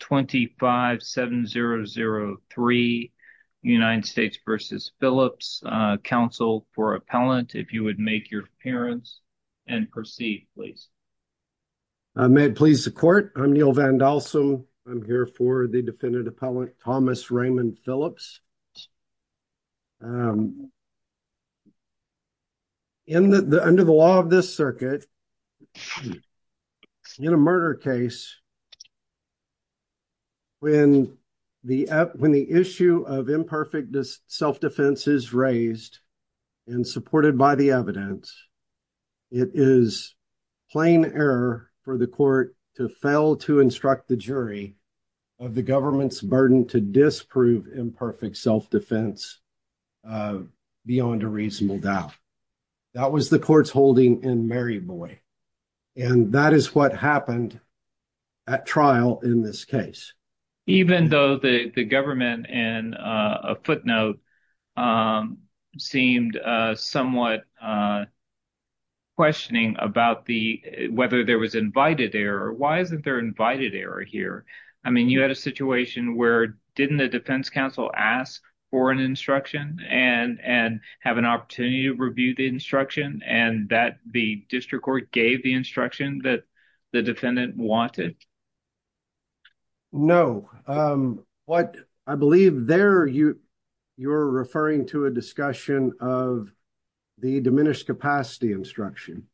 25 7003 United States versus Phillips Council for appellant if you would make your appearance and proceed please. May it please the court I'm Neil Van Dalsom I'm here for the defendant appellant Thomas Raymond Phillips. Under the law of this circuit in a murder case when the when the issue of imperfect self-defense is raised and supported by the evidence it is plain error for the court to fail to instruct the jury of the government's burden to disprove imperfect self-defense beyond a reasonable doubt. That was the court's holding in Maryboy and that is what happened at trial in this case. Even though the the government and a footnote seemed somewhat questioning about the whether there was invited error. Why isn't there invited error here? I mean you had a situation where didn't the defense counsel ask for an and and have an opportunity to review the instruction and that the district court gave the instruction that the defendant wanted? No what I believe there you you're referring to a discussion of the diminished capacity instruction.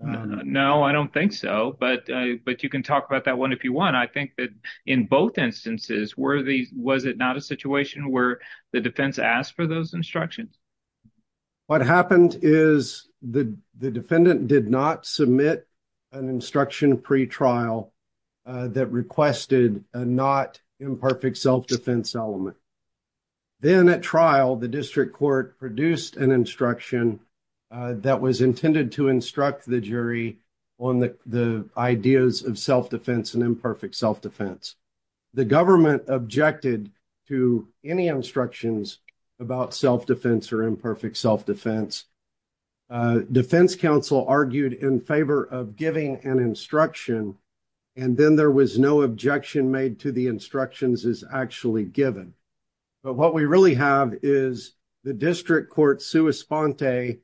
No I don't think so but but you can talk about that one if you want. I think that in both instances were the was it not a situation where the defense asked for those instructions? What happened is the the defendant did not submit an instruction pre-trial that requested a not imperfect self-defense element. Then at trial the district court produced an instruction that was intended to instruct the jury on the the ideas of self-defense and imperfect self-defense. The government objected to any instructions about self-defense or imperfect self-defense. Defense counsel argued in favor of giving an instruction and then there was no objection made to the instructions is actually given. But what we really have is the district court sua sponte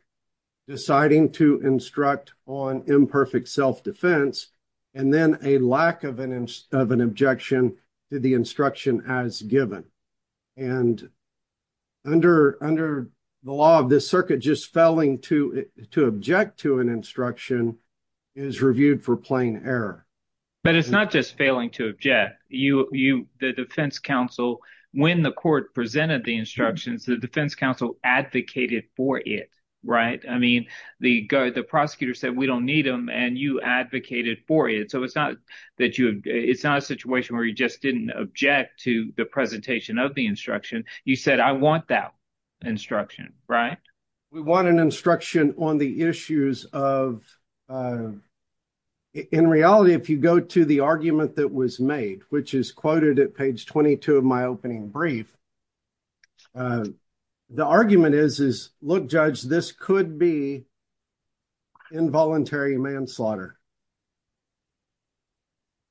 deciding to instruct on imperfect self-defense and then a lack of an of an objection to the instruction as given and under under the law of this circuit just failing to to object to an instruction is reviewed for plain error. But it's not just failing to object you you the defense counsel when the court presented the instructions the defense counsel advocated for it right? I mean the the prosecutor said we don't need them and you advocated for it so it's not that you it's not a didn't object to the presentation of the instruction you said I want that instruction right? We want an instruction on the issues of in reality if you go to the argument that was made which is quoted at page 22 of my opening brief the argument is is look judge this could be involuntary manslaughter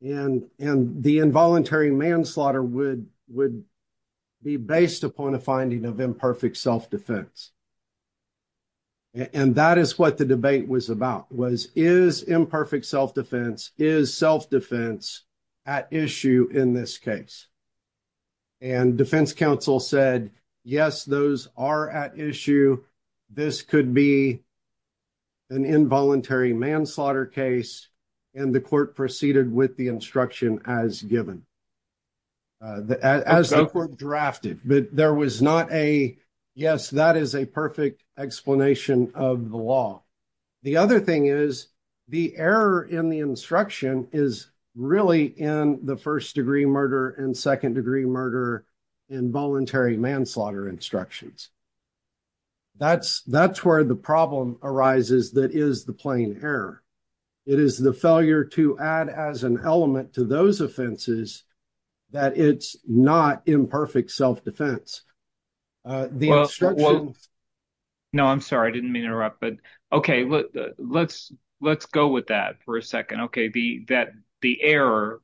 and and the involuntary manslaughter would would be based upon a finding of imperfect self-defense and that is what the debate was about was is imperfect self-defense is self-defense at issue in this case and defense counsel said yes those are at issue this could be an involuntary manslaughter case and the court proceeded with the instruction as given uh as the court drafted but there was not a yes that is a perfect explanation of the law the other thing is the error in the instruction is really in the first degree murder and second arises that is the plain error it is the failure to add as an element to those offenses that it's not imperfect self-defense uh the instruction no I'm sorry I didn't mean to interrupt but okay let's let's go with that for a second okay the that the error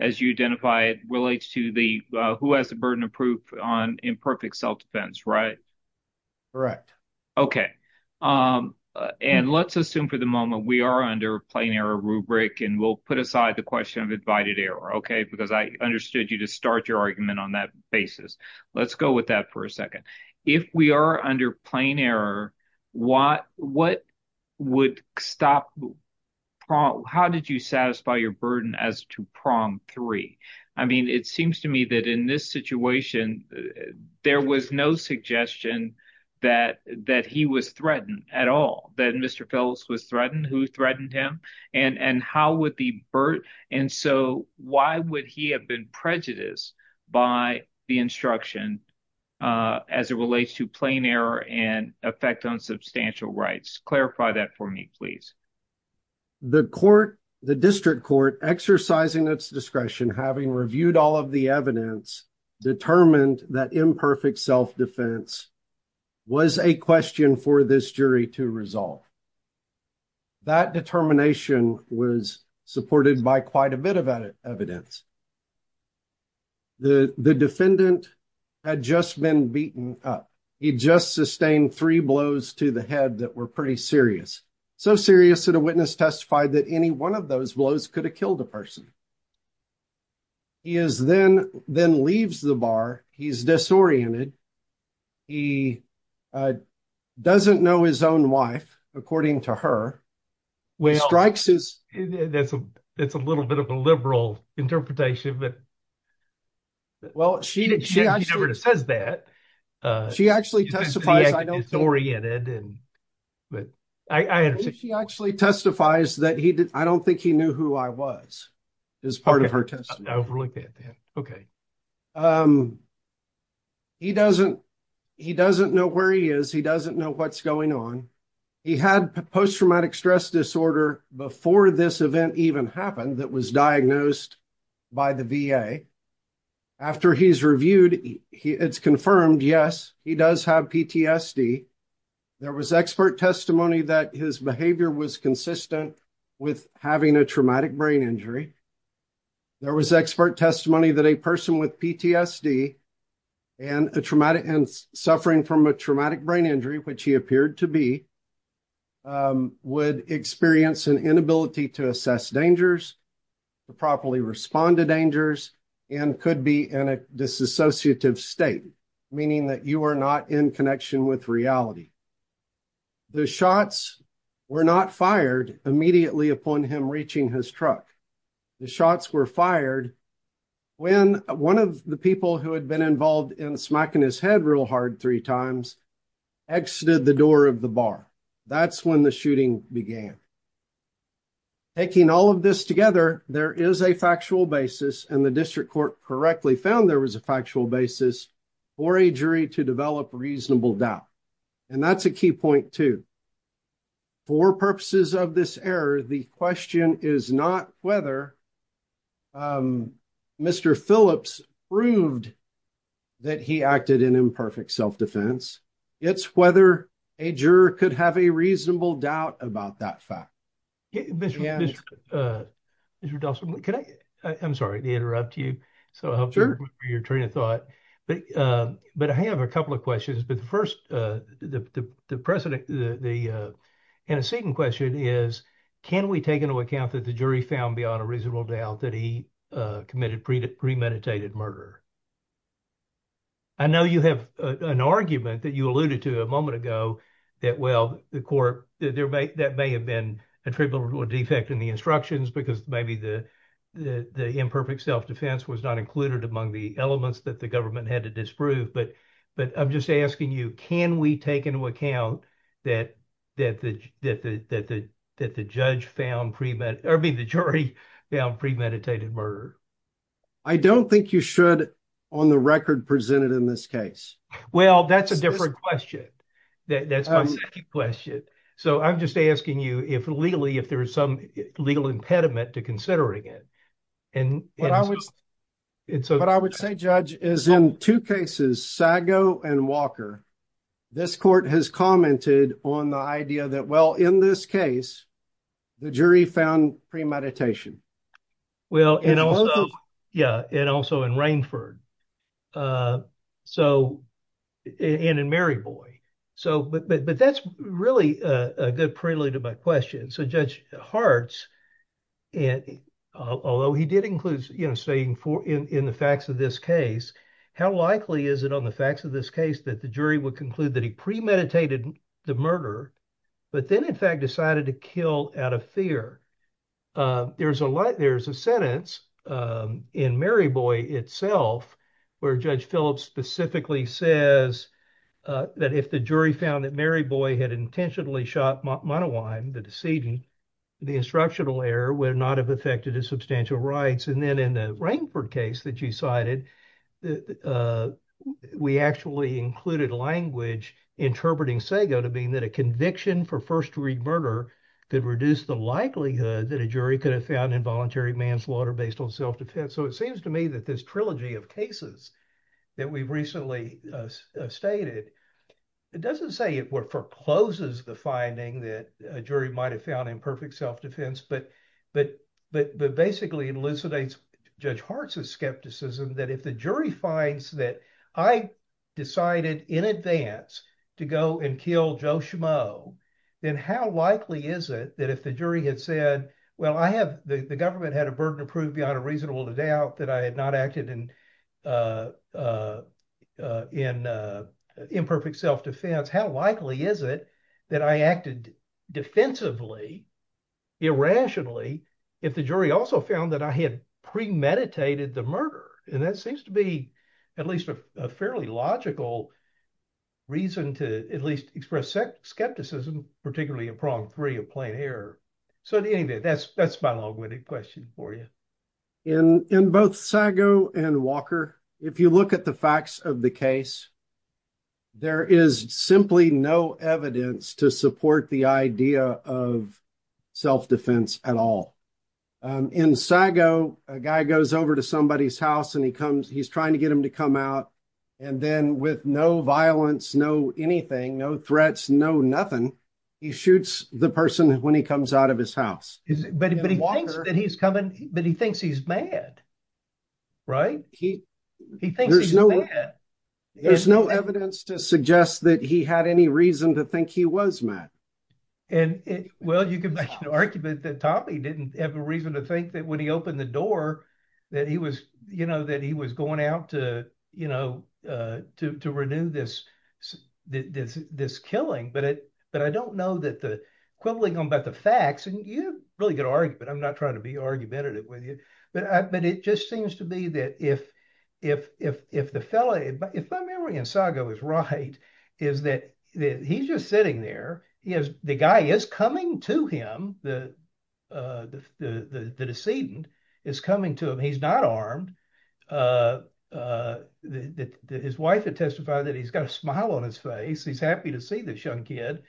as you identify it relates to the uh who has the burden of proof on imperfect self-defense right correct okay um and let's assume for the moment we are under a plain error rubric and we'll put aside the question of invited error okay because I understood you to start your argument on that basis let's go with that for a second if we are under plain error what what would stop how did you satisfy your burden as to prom three I mean it seems to me that in this situation there was no suggestion that that he was threatened at all that Mr. Phelps was threatened who threatened him and and how would the bird and so why would he have been prejudiced by the instruction uh as it relates to plain error and effect on substantial rights clarify that for me please the court the district court exercising its discretion having reviewed all the evidence determined that imperfect self-defense was a question for this jury to resolve that determination was supported by quite a bit of evidence the the defendant had just been beaten up he just sustained three blows to the head that were pretty serious so serious that a witness testified that any one of those blows could have killed a person he is then then leaves the bar he's disoriented he uh doesn't know his own wife according to her when he strikes his that's a it's a little bit of a liberal interpretation but well she did she actually says that uh she actually testifies I know it's oriented and but I understood she actually testifies that he did I don't think he knew who I was as part of her testimony okay um he doesn't he doesn't know where he is he doesn't know what's going on he had post-traumatic stress disorder before this event even happened that was diagnosed by the VA after he's reviewed he it's confirmed yes he does have PTSD there was expert testimony that his behavior was consistent with having a traumatic brain injury there was expert testimony that a person with PTSD and a traumatic and suffering from a traumatic brain injury which appeared to be would experience an inability to assess dangers to properly respond to dangers and could be in a disassociative state meaning that you are not in connection with reality the shots were not fired immediately upon him reaching his truck the shots were fired when one of the people who had been involved in smacking his head real hard three times exited the door of the bar that's when the shooting began taking all of this together there is a factual basis and the district court correctly found there was a factual basis for a jury to develop reasonable doubt and that's a key point too for purposes of this error the question is not whether um Mr. Phillips proved that he acted in imperfect self-defense it's whether a juror could have a reasonable doubt about that fact Mr. Dawson can I I'm sorry to interrupt you so I hope you're your train of thought but um but I have a couple of questions but the first uh the the precedent the uh and a second question is can we take into account that the jury found beyond a reasonable doubt that he committed pre-meditated murder I know you have an argument that you alluded to a moment ago that well the court that there may that may have been attributable defect in the instructions because maybe the the the imperfect self-defense was not included among the elements that the government had to disprove but but I'm just asking you can we take into account that that the that the that the judge found pre-med or I mean the jury found premeditated murder I don't think you should on the record present it in this case well that's a different question that's my second question so I'm just asking you if legally if there is some legal impediment to considering it and what I would say judge is in two cases Sago and Walker this court has commented on the idea that well in this case the jury found pre-meditation well and also yeah and also in Rainford uh so and in Maryboy so but but that's really a good prelude to my question so Judge Hartz and although he did include you know saying for in in the facts of this case how likely is it the facts of this case that the jury would conclude that he premeditated the murder but then in fact decided to kill out of fear uh there's a lot there's a sentence um in Maryboy itself where Judge Phillips specifically says uh that if the jury found that Maryboy had intentionally shot Monowine the decedent the instructional error would not have affected his substantial rights and then in the Rainford case that you cited that uh we actually included language interpreting Sago to mean that a conviction for first degree murder could reduce the likelihood that a jury could have found involuntary manslaughter based on self-defense so it seems to me that this trilogy of cases that we've recently uh stated it doesn't say it forecloses the finding that a jury might have found imperfect self-defense but but but basically elucidates Judge Hartz's skepticism that if the jury finds that I decided in advance to go and kill Joe Schmoe then how likely is it that if the jury had said well I have the government had a burden approved beyond a reasonable doubt that I had not acted in uh uh in uh imperfect self-defense how likely is it that I acted defensively irrationally if the jury also found that I had premeditated the murder and that seems to be at least a fairly logical reason to at least express skepticism particularly in prong three of plain error so anyway that's that's my long-winded question for you. In in both Sago and Walker if you look at the facts of the case there is simply no evidence to support the idea of self-defense at all um in Sago a guy goes over to somebody's house and he comes he's trying to get him to come out and then with no violence no anything no threats no nothing he shoots the person when he comes out of his house but but he thinks that he's coming but he thinks he's mad right he he thinks there's no there's no evidence to suggest that he had any reason to think he was mad and well you can make an argument that Toppy didn't have a reason to think that when he opened the door that he was you know that he was going out to you know uh to to renew this this this killing but it but I don't know that the equivalent about the facts and you really could argue but I'm not trying to be argumentative with you but I but it just seems to be that if if if if the fella if my memory in Sago is right is that that he's just sitting there he has the guy is coming to him the uh the the the decedent is coming to him he's not armed uh uh that his wife had testified that he's got a smile on his face he's happy to see this young kid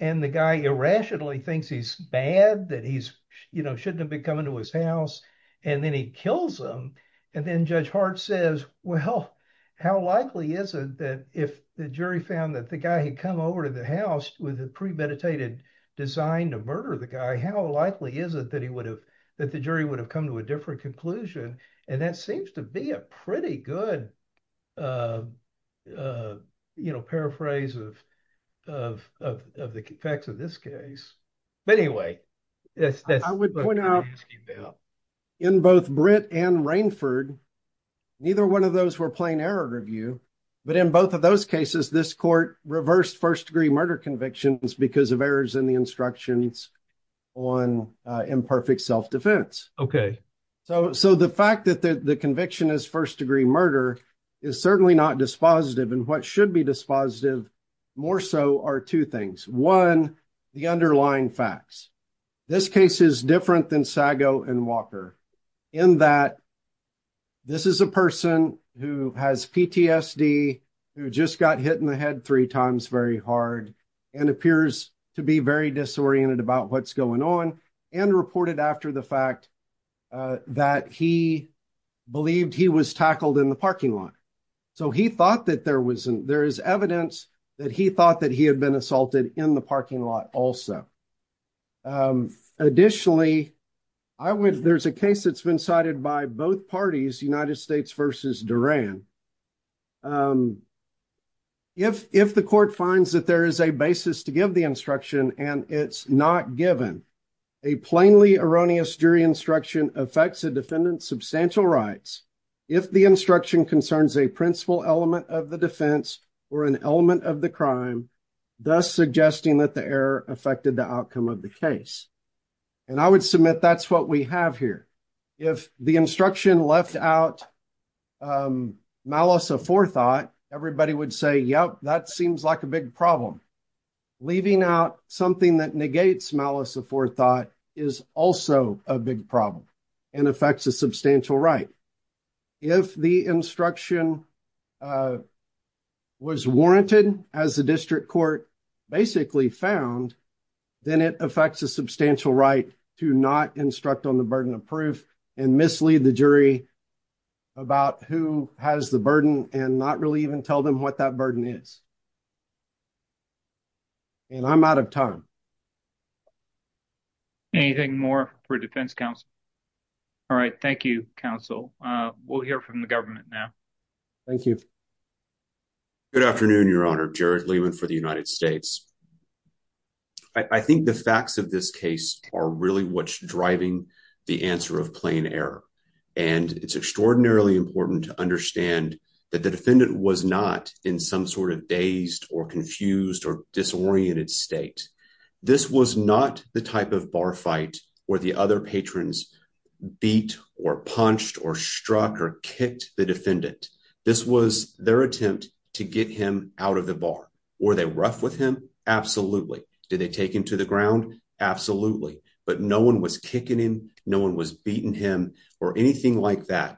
and the guy irrationally thinks he's bad that he's you know shouldn't have been coming to his house and then he kills him and then Judge Hart says well how likely is it that if the jury found that the guy had come over to the house with a premeditated design to murder the guy how likely is it that he would have that the jury would have come to a different conclusion and that seems to be a pretty good uh uh you know paraphrase of of of the facts of this case but anyway yes I would point out in both Britt and Rainford neither one of those were plain error review but in both of those cases this court reversed first degree murder convictions because of errors in the instructions on uh imperfect self-defense okay so so the fact that the conviction is first degree murder is certainly not dispositive and what should be dispositive more so are two things one the underlying facts this case is different than Sago and Walker in that this is a person who has PTSD who just got hit in the head three times very hard and appears to be very disoriented about what's going on and reported after the fact uh that he believed he was tackled in the parking lot so he thought that there wasn't there is evidence that he thought that he had been assaulted in the parking lot also um additionally I would there's a case that's been cited by both parties United States versus Duran um if if the court finds that there is a basis to give the instruction and it's not given a plainly erroneous jury instruction affects a defendant's substantial rights if the instruction concerns a principal element of the defense or an element of the crime thus suggesting that the error affected the outcome of the case and I would submit that's what we have here if the instruction left out um malice aforethought everybody would say yep that seems like a big problem leaving out something that negates malice aforethought is also a big problem and affects a substantial right if the instruction uh was warranted as the district court basically found then it affects a substantial right to not instruct on the burden of proof and mislead the jury about who has the burden and not really even tell them what that burden is and I'm out of time anything more for defense counsel all right thank you counsel uh we'll hear from the government now thank you good afternoon your honor Jared Lehman for the United States I think the facts of this case are really what's driving the answer of plain error and it's extraordinarily important to understand that the defendant was not in some sort of dazed or confused or disoriented state this was not the type of bar fight where the other patrons beat or punched or struck or kicked the defendant this was their attempt to get him out of the bar were they rough with him absolutely did they take him to the ground absolutely but no one was no one was beating him or anything like that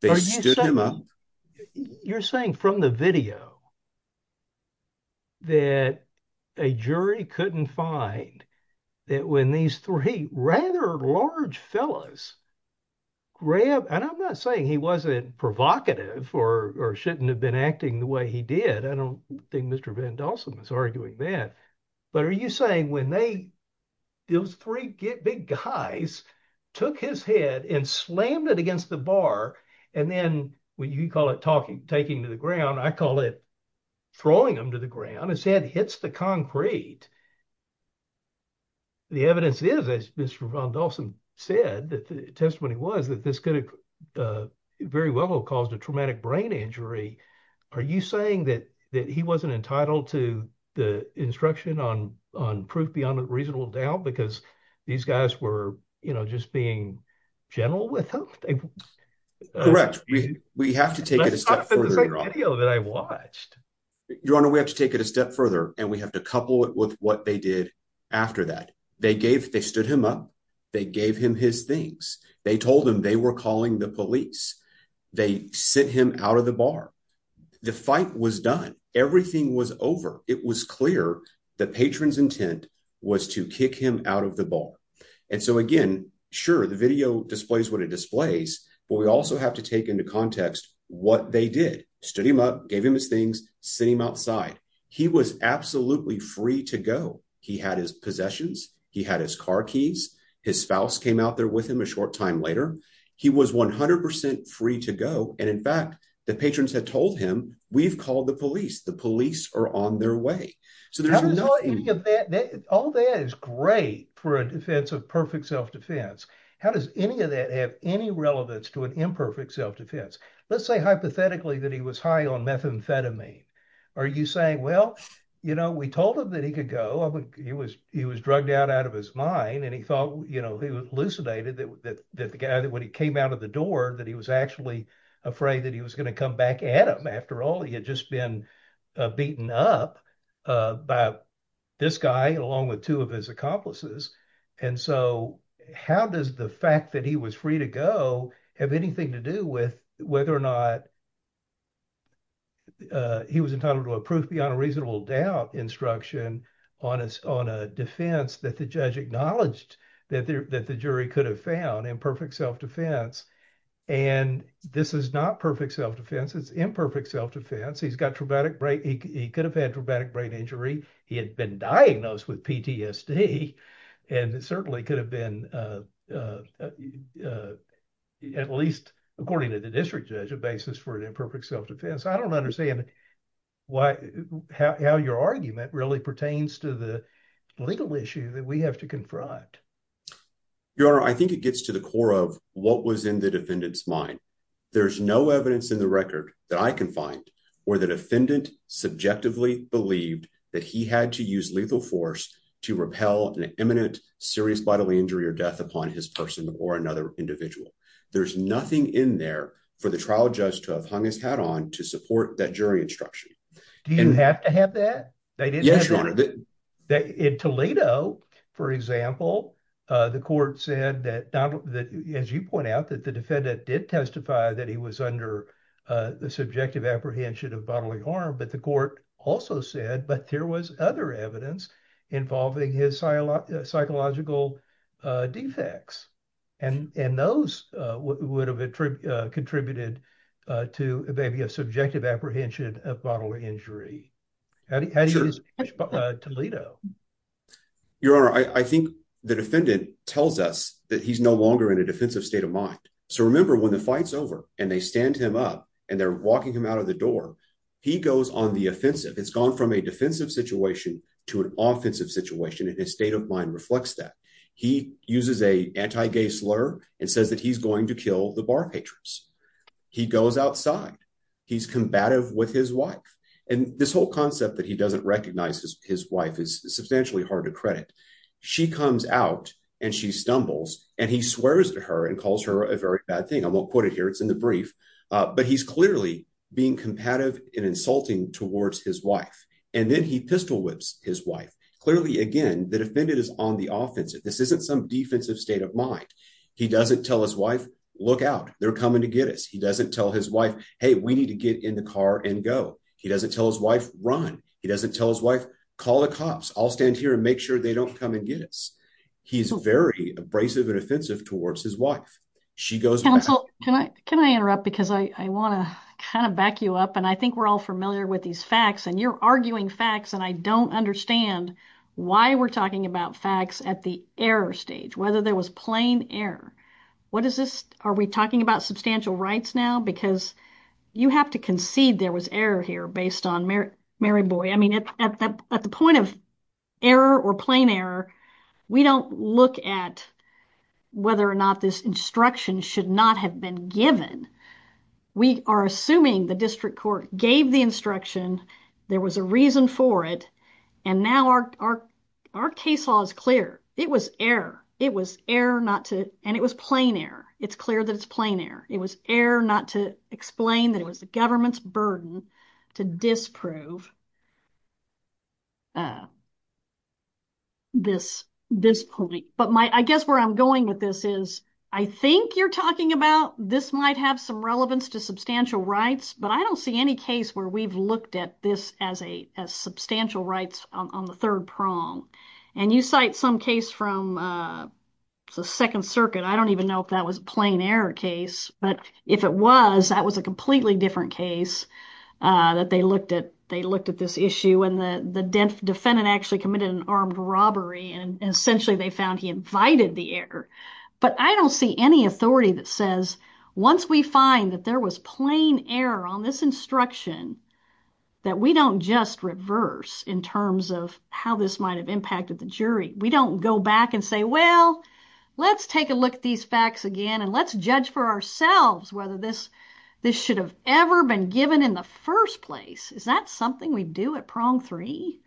they stood him up you're saying from the video that a jury couldn't find that when these three rather large fellas grabbed and I'm not saying he wasn't provocative or or shouldn't have been acting the way he did I don't think Mr. Van Dalsen was arguing that but are you saying when they those three big guys took his head and slammed it against the bar and then when you call it talking taking to the ground I call it throwing him to the ground his head hits the concrete the evidence is as Mr. Van Dalsen said that the testimony was that this could have very well caused a traumatic brain injury are you saying that that he wasn't entitled to the instruction on on proof beyond a reasonable doubt because these guys were you know just being gentle with him correct we we have to take it that I watched your honor we have to take it a step further and we have to couple it with what they did after that they gave they stood him up they gave him his things they told him they were the police they sent him out of the bar the fight was done everything was over it was clear the patron's intent was to kick him out of the bar and so again sure the video displays what it displays but we also have to take into context what they did stood him up gave him his things sent him outside he was absolutely free to go he had his possessions he had his car keys his spouse came out there with him a short time later he was 100 free to go and in fact the patrons had told him we've called the police the police are on their way so there's no any of that all that is great for a defense of perfect self-defense how does any of that have any relevance to an imperfect self-defense let's say hypothetically that he was high on methamphetamine are you saying well you know we told him that he could go he was he was drugged out out of his mind and he thought you know he hallucinated that that the guy that when he came out of the door that he was actually afraid that he was going to come back at him after all he had just been beaten up by this guy along with two of his accomplices and so how does the fact that he was free to go have anything to do with whether or not he was entitled to a proof beyond a reasonable doubt instruction on a defense that the judge acknowledged that the jury could have found imperfect self-defense and this is not perfect self-defense it's imperfect self-defense he's got traumatic brain he could have had traumatic brain injury he had been diagnosed with ptsd and it certainly could have been at least according to the district judge a basis for i don't understand why how your argument really pertains to the legal issue that we have to confront your honor i think it gets to the core of what was in the defendant's mind there's no evidence in the record that i can find where the defendant subjectively believed that he had to use lethal force to repel an imminent serious bodily injury or death upon his person or another individual there's nothing in there for the trial judge to have hung his hat on to support that jury instruction do you have to have that they did yes your honor that in toledo for example the court said that donald that as you point out that the defendant did testify that he was under the subjective apprehension of bodily harm but the court also said but there was other evidence involving his psychological defects and and those would have contributed to maybe a subjective apprehension of bodily injury how do you use toledo your honor i i think the defendant tells us that he's no longer in a defensive state of mind so remember when the fight's over and they stand him up and they're walking him out of the door he goes on the offensive it's gone from a defensive situation and his state of mind reflects that he uses a anti-gay slur and says that he's going to kill the bar patrons he goes outside he's combative with his wife and this whole concept that he doesn't recognize his wife is substantially hard to credit she comes out and she stumbles and he swears at her and calls her a very bad thing i won't quote it here it's in the brief but he's being combative and insulting towards his wife and then he pistol whips his wife clearly again the defendant is on the offensive this isn't some defensive state of mind he doesn't tell his wife look out they're coming to get us he doesn't tell his wife hey we need to get in the car and go he doesn't tell his wife run he doesn't tell his wife call the cops i'll stand here and make sure they don't come and get us he's very abrasive and offensive towards his wife she goes can i can i kind of back you up and i think we're all familiar with these facts and you're arguing facts and i don't understand why we're talking about facts at the error stage whether there was plain error what is this are we talking about substantial rights now because you have to concede there was error here based on mary mary boy i mean at the point of error or plain error we don't look at whether or not this instruction should not have been given we are assuming the district court gave the instruction there was a reason for it and now our our case law is clear it was error it was error not to and it was plain error it's clear that it's plain error it was error not to explain that it was the government's burden to disprove this this point but my i guess where i'm going with this is i think you're talking about this might have some relevance to substantial rights but i don't see any case where we've looked at this as a as substantial rights on the third prong and you cite some case from uh the second circuit i don't even know if that was a plain error case but if it was that was a completely different case uh that they looked at they looked at this issue and the the defendant actually committed an armed robbery and essentially they found he invited the error but i don't see any authority that says once we find that there was plain error on this instruction that we don't just reverse in terms of how this might have impacted the jury we don't go back and say well let's take a look at these facts again and let's judge for ourselves whether this this should have ever been given in the first place is that something we do at prong three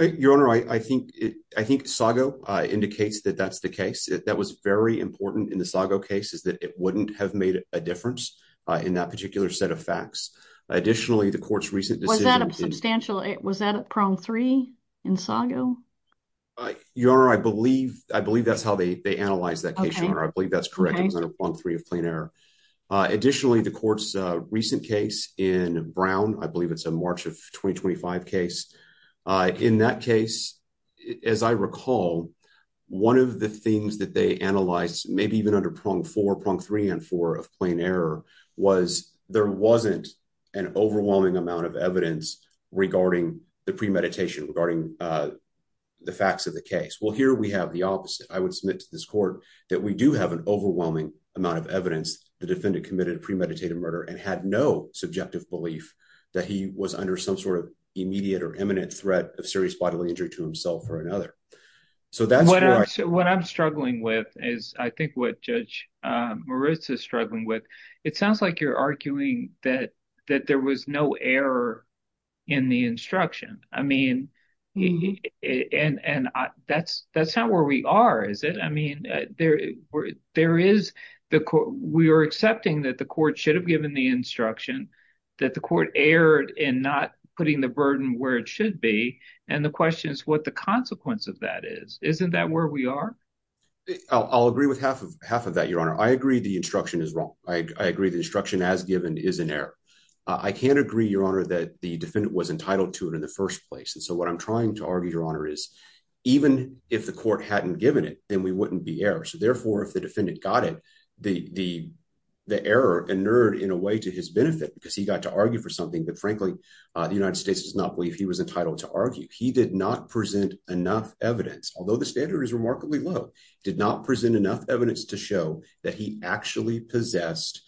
your honor i i think it i think sago uh indicates that that's the case that was very important in the sago case is that it wouldn't have made a difference uh in that particular set of facts additionally the court's recent decision substantial was that at prong three in sago your honor i believe i believe that's how they they analyzed that case your honor i believe that's correct it was under prong three of plain error additionally the court's uh recent case in brown i believe it's a march of 2025 case uh in that case as i recall one of the things that they analyzed maybe even under prong four prong three and four of plain error was there wasn't an overwhelming amount of evidence regarding the premeditation regarding uh the facts of the case well here we have the opposite i would submit to this court that we do have an overwhelming amount of evidence the defendant committed a premeditated murder and had no subjective belief that he was under some sort of immediate or imminent threat of serious bodily injury to himself or another so that's what i'm struggling with is i think what judge um marissa is struggling with it sounds like you're arguing that that there was no error in the instruction i mean and and that's that's not where we are is it i mean there there is the court we are accepting that the court should have given the instruction that the court erred in not putting the burden where it should be and the question is what the consequence of that is isn't that where we are i'll agree with half of half of that your honor i agree the instruction is wrong i agree the instruction as given is an error i can't agree your honor that the defendant was entitled to it in the first place and so what i'm trying to argue your honor is even if the court hadn't given it then we wouldn't be errors so therefore if the defendant got it the the the error inerred in a way to his benefit because he got to argue for something that frankly uh the united states does not believe he was entitled to argue he did not present enough evidence although the standard is remarkably low did not present enough evidence to show that he actually possessed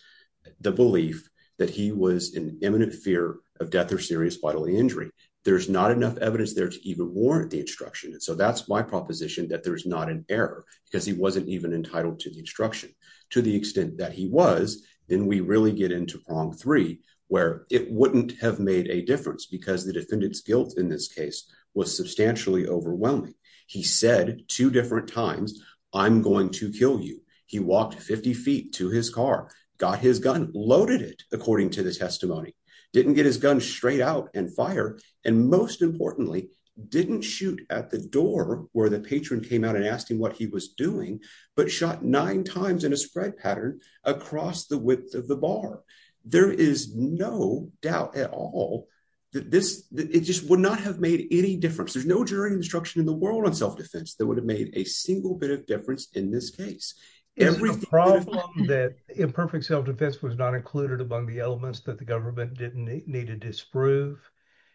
the belief that he was in imminent fear of death or serious bodily injury there's not enough evidence there to even warrant the instruction and so that's my proposition that there's not an error because he wasn't even entitled to the instruction to the extent that he was then we really get into prong three where it wouldn't have made a difference because the defendant's guilt in this case was substantially overwhelming he said two different times i'm going to kill you he walked 50 feet to his car got his gun loaded it according to the testimony didn't get his gun straight out and fire and most importantly didn't shoot at the door where the patron came out and asked him what he was doing but shot nine times in a spread pattern across the width of the bar there is no doubt at all that this it just would not have made any difference there's no jury instruction in the world on self-defense that would have made a single bit of difference in this case every problem that imperfect self-defense was not included among the elements that the government didn't need to disprove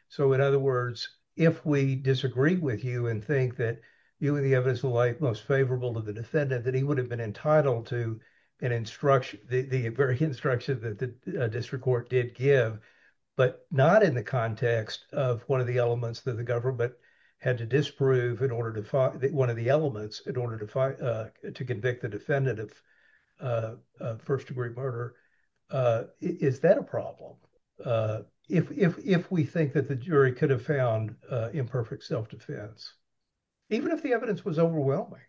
so in other words if we disagree with you and think that you and the evidence will like most favorable to the defendant that he would have been entitled to an instruction the very instruction that the district court did give but not in the context of one of the elements that the government had to disprove in order to find that one of the elements in order to fight uh to convict the defendant of uh first degree murder uh is that a problem uh if if if we think that the jury could have found uh imperfect self-defense even if the evidence was overwhelming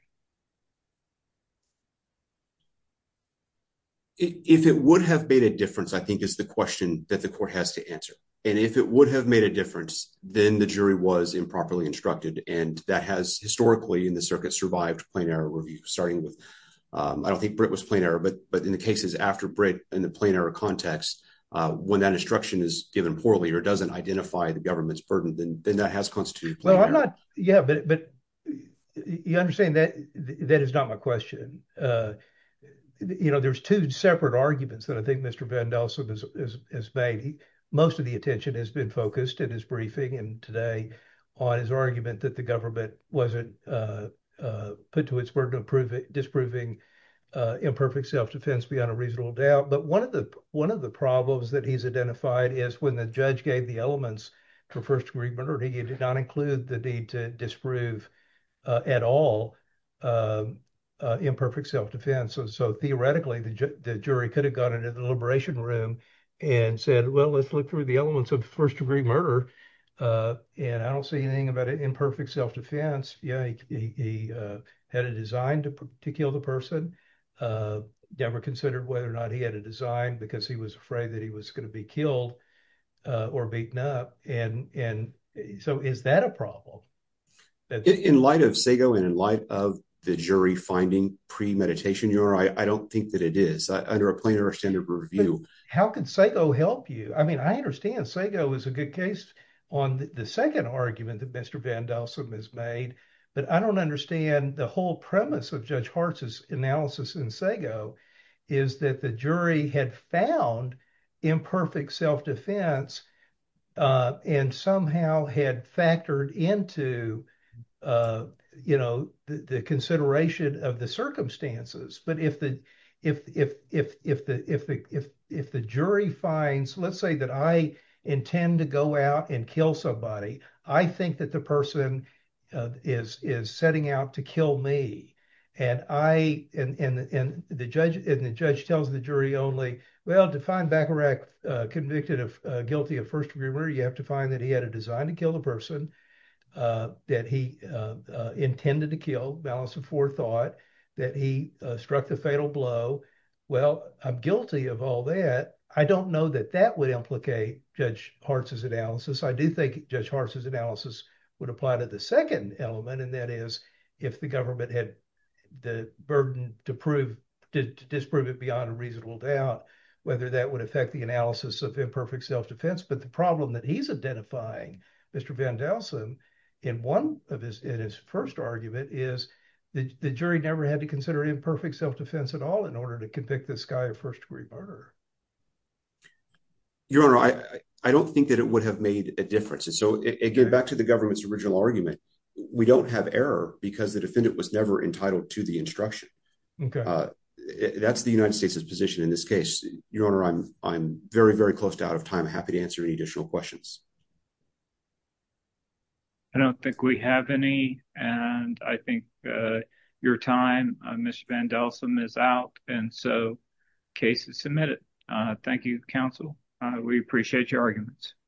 if it would have made a difference i think is the question that the court has to answer and if it would have made a difference then the jury was improperly instructed and that has historically in the circuit survived plain error review starting with um i don't think brit was plain error but but in the cases after brit in the plain error context uh when that instruction is given poorly or doesn't identify the government's burden then then that has constituted well i'm not yeah but but you understand that that is not my question uh you know there's two separate arguments that i think mr vandalism is is made most of the attention has been focused in his briefing and today on his argument that the government wasn't uh uh put to its burden of proving disproving uh imperfect self-defense beyond a reasonable doubt but one of the one of the problems that he's identified is when the judge gave the elements for first degree murder he did not include the need to disprove uh at all uh imperfect self-defense so theoretically the jury could have gone into the liberation room and said well let's look through the elements of first degree murder uh and i don't see anything about it imperfect self-defense yeah he had a design to kill the person uh never considered whether or not he because he was afraid that he was going to be killed uh or beaten up and and so is that a problem in light of segoe and in light of the jury finding pre-meditation you are i i don't think that it is under a plain or standard review how could segoe help you i mean i understand segoe is a good case on the second argument that mr vandalism has made but i don't understand the whole premise of judge hart's analysis in segoe is that the jury had found imperfect self-defense uh and somehow had factored into uh you know the consideration of the circumstances but if the if if if the if the if if the jury finds let's say that i intend to go out and kill somebody i think that the person is is setting out to kill me and i and and and the judge and the judge tells the jury only well to find baccarat uh convicted of guilty of first degree murder you have to find that he had a design to kill the person uh that he uh intended to kill balance of forethought that he struck the fatal blow well i'm guilty of all that i don't know that that would implicate judge hart's analysis i do think judge hart's analysis would apply to the second element and that is if the government had the burden to prove to disprove it beyond a reasonable doubt whether that would affect the analysis of imperfect self-defense but the problem that he's identifying mr vandalism in one of his in his first argument is the jury never had to consider imperfect self-defense at all in order to convict this guy of first degree murder your honor i i don't think that it would have made a difference so it get back to the government's original argument we don't have error because the defendant was never entitled to the instruction okay that's the united states's position in this case your honor i'm i'm very very close to out of time happy to answer any additional questions i don't think we have any and i think uh your time mr vandalism is out and so case is submitted uh thank you counsel uh we appreciate your arguments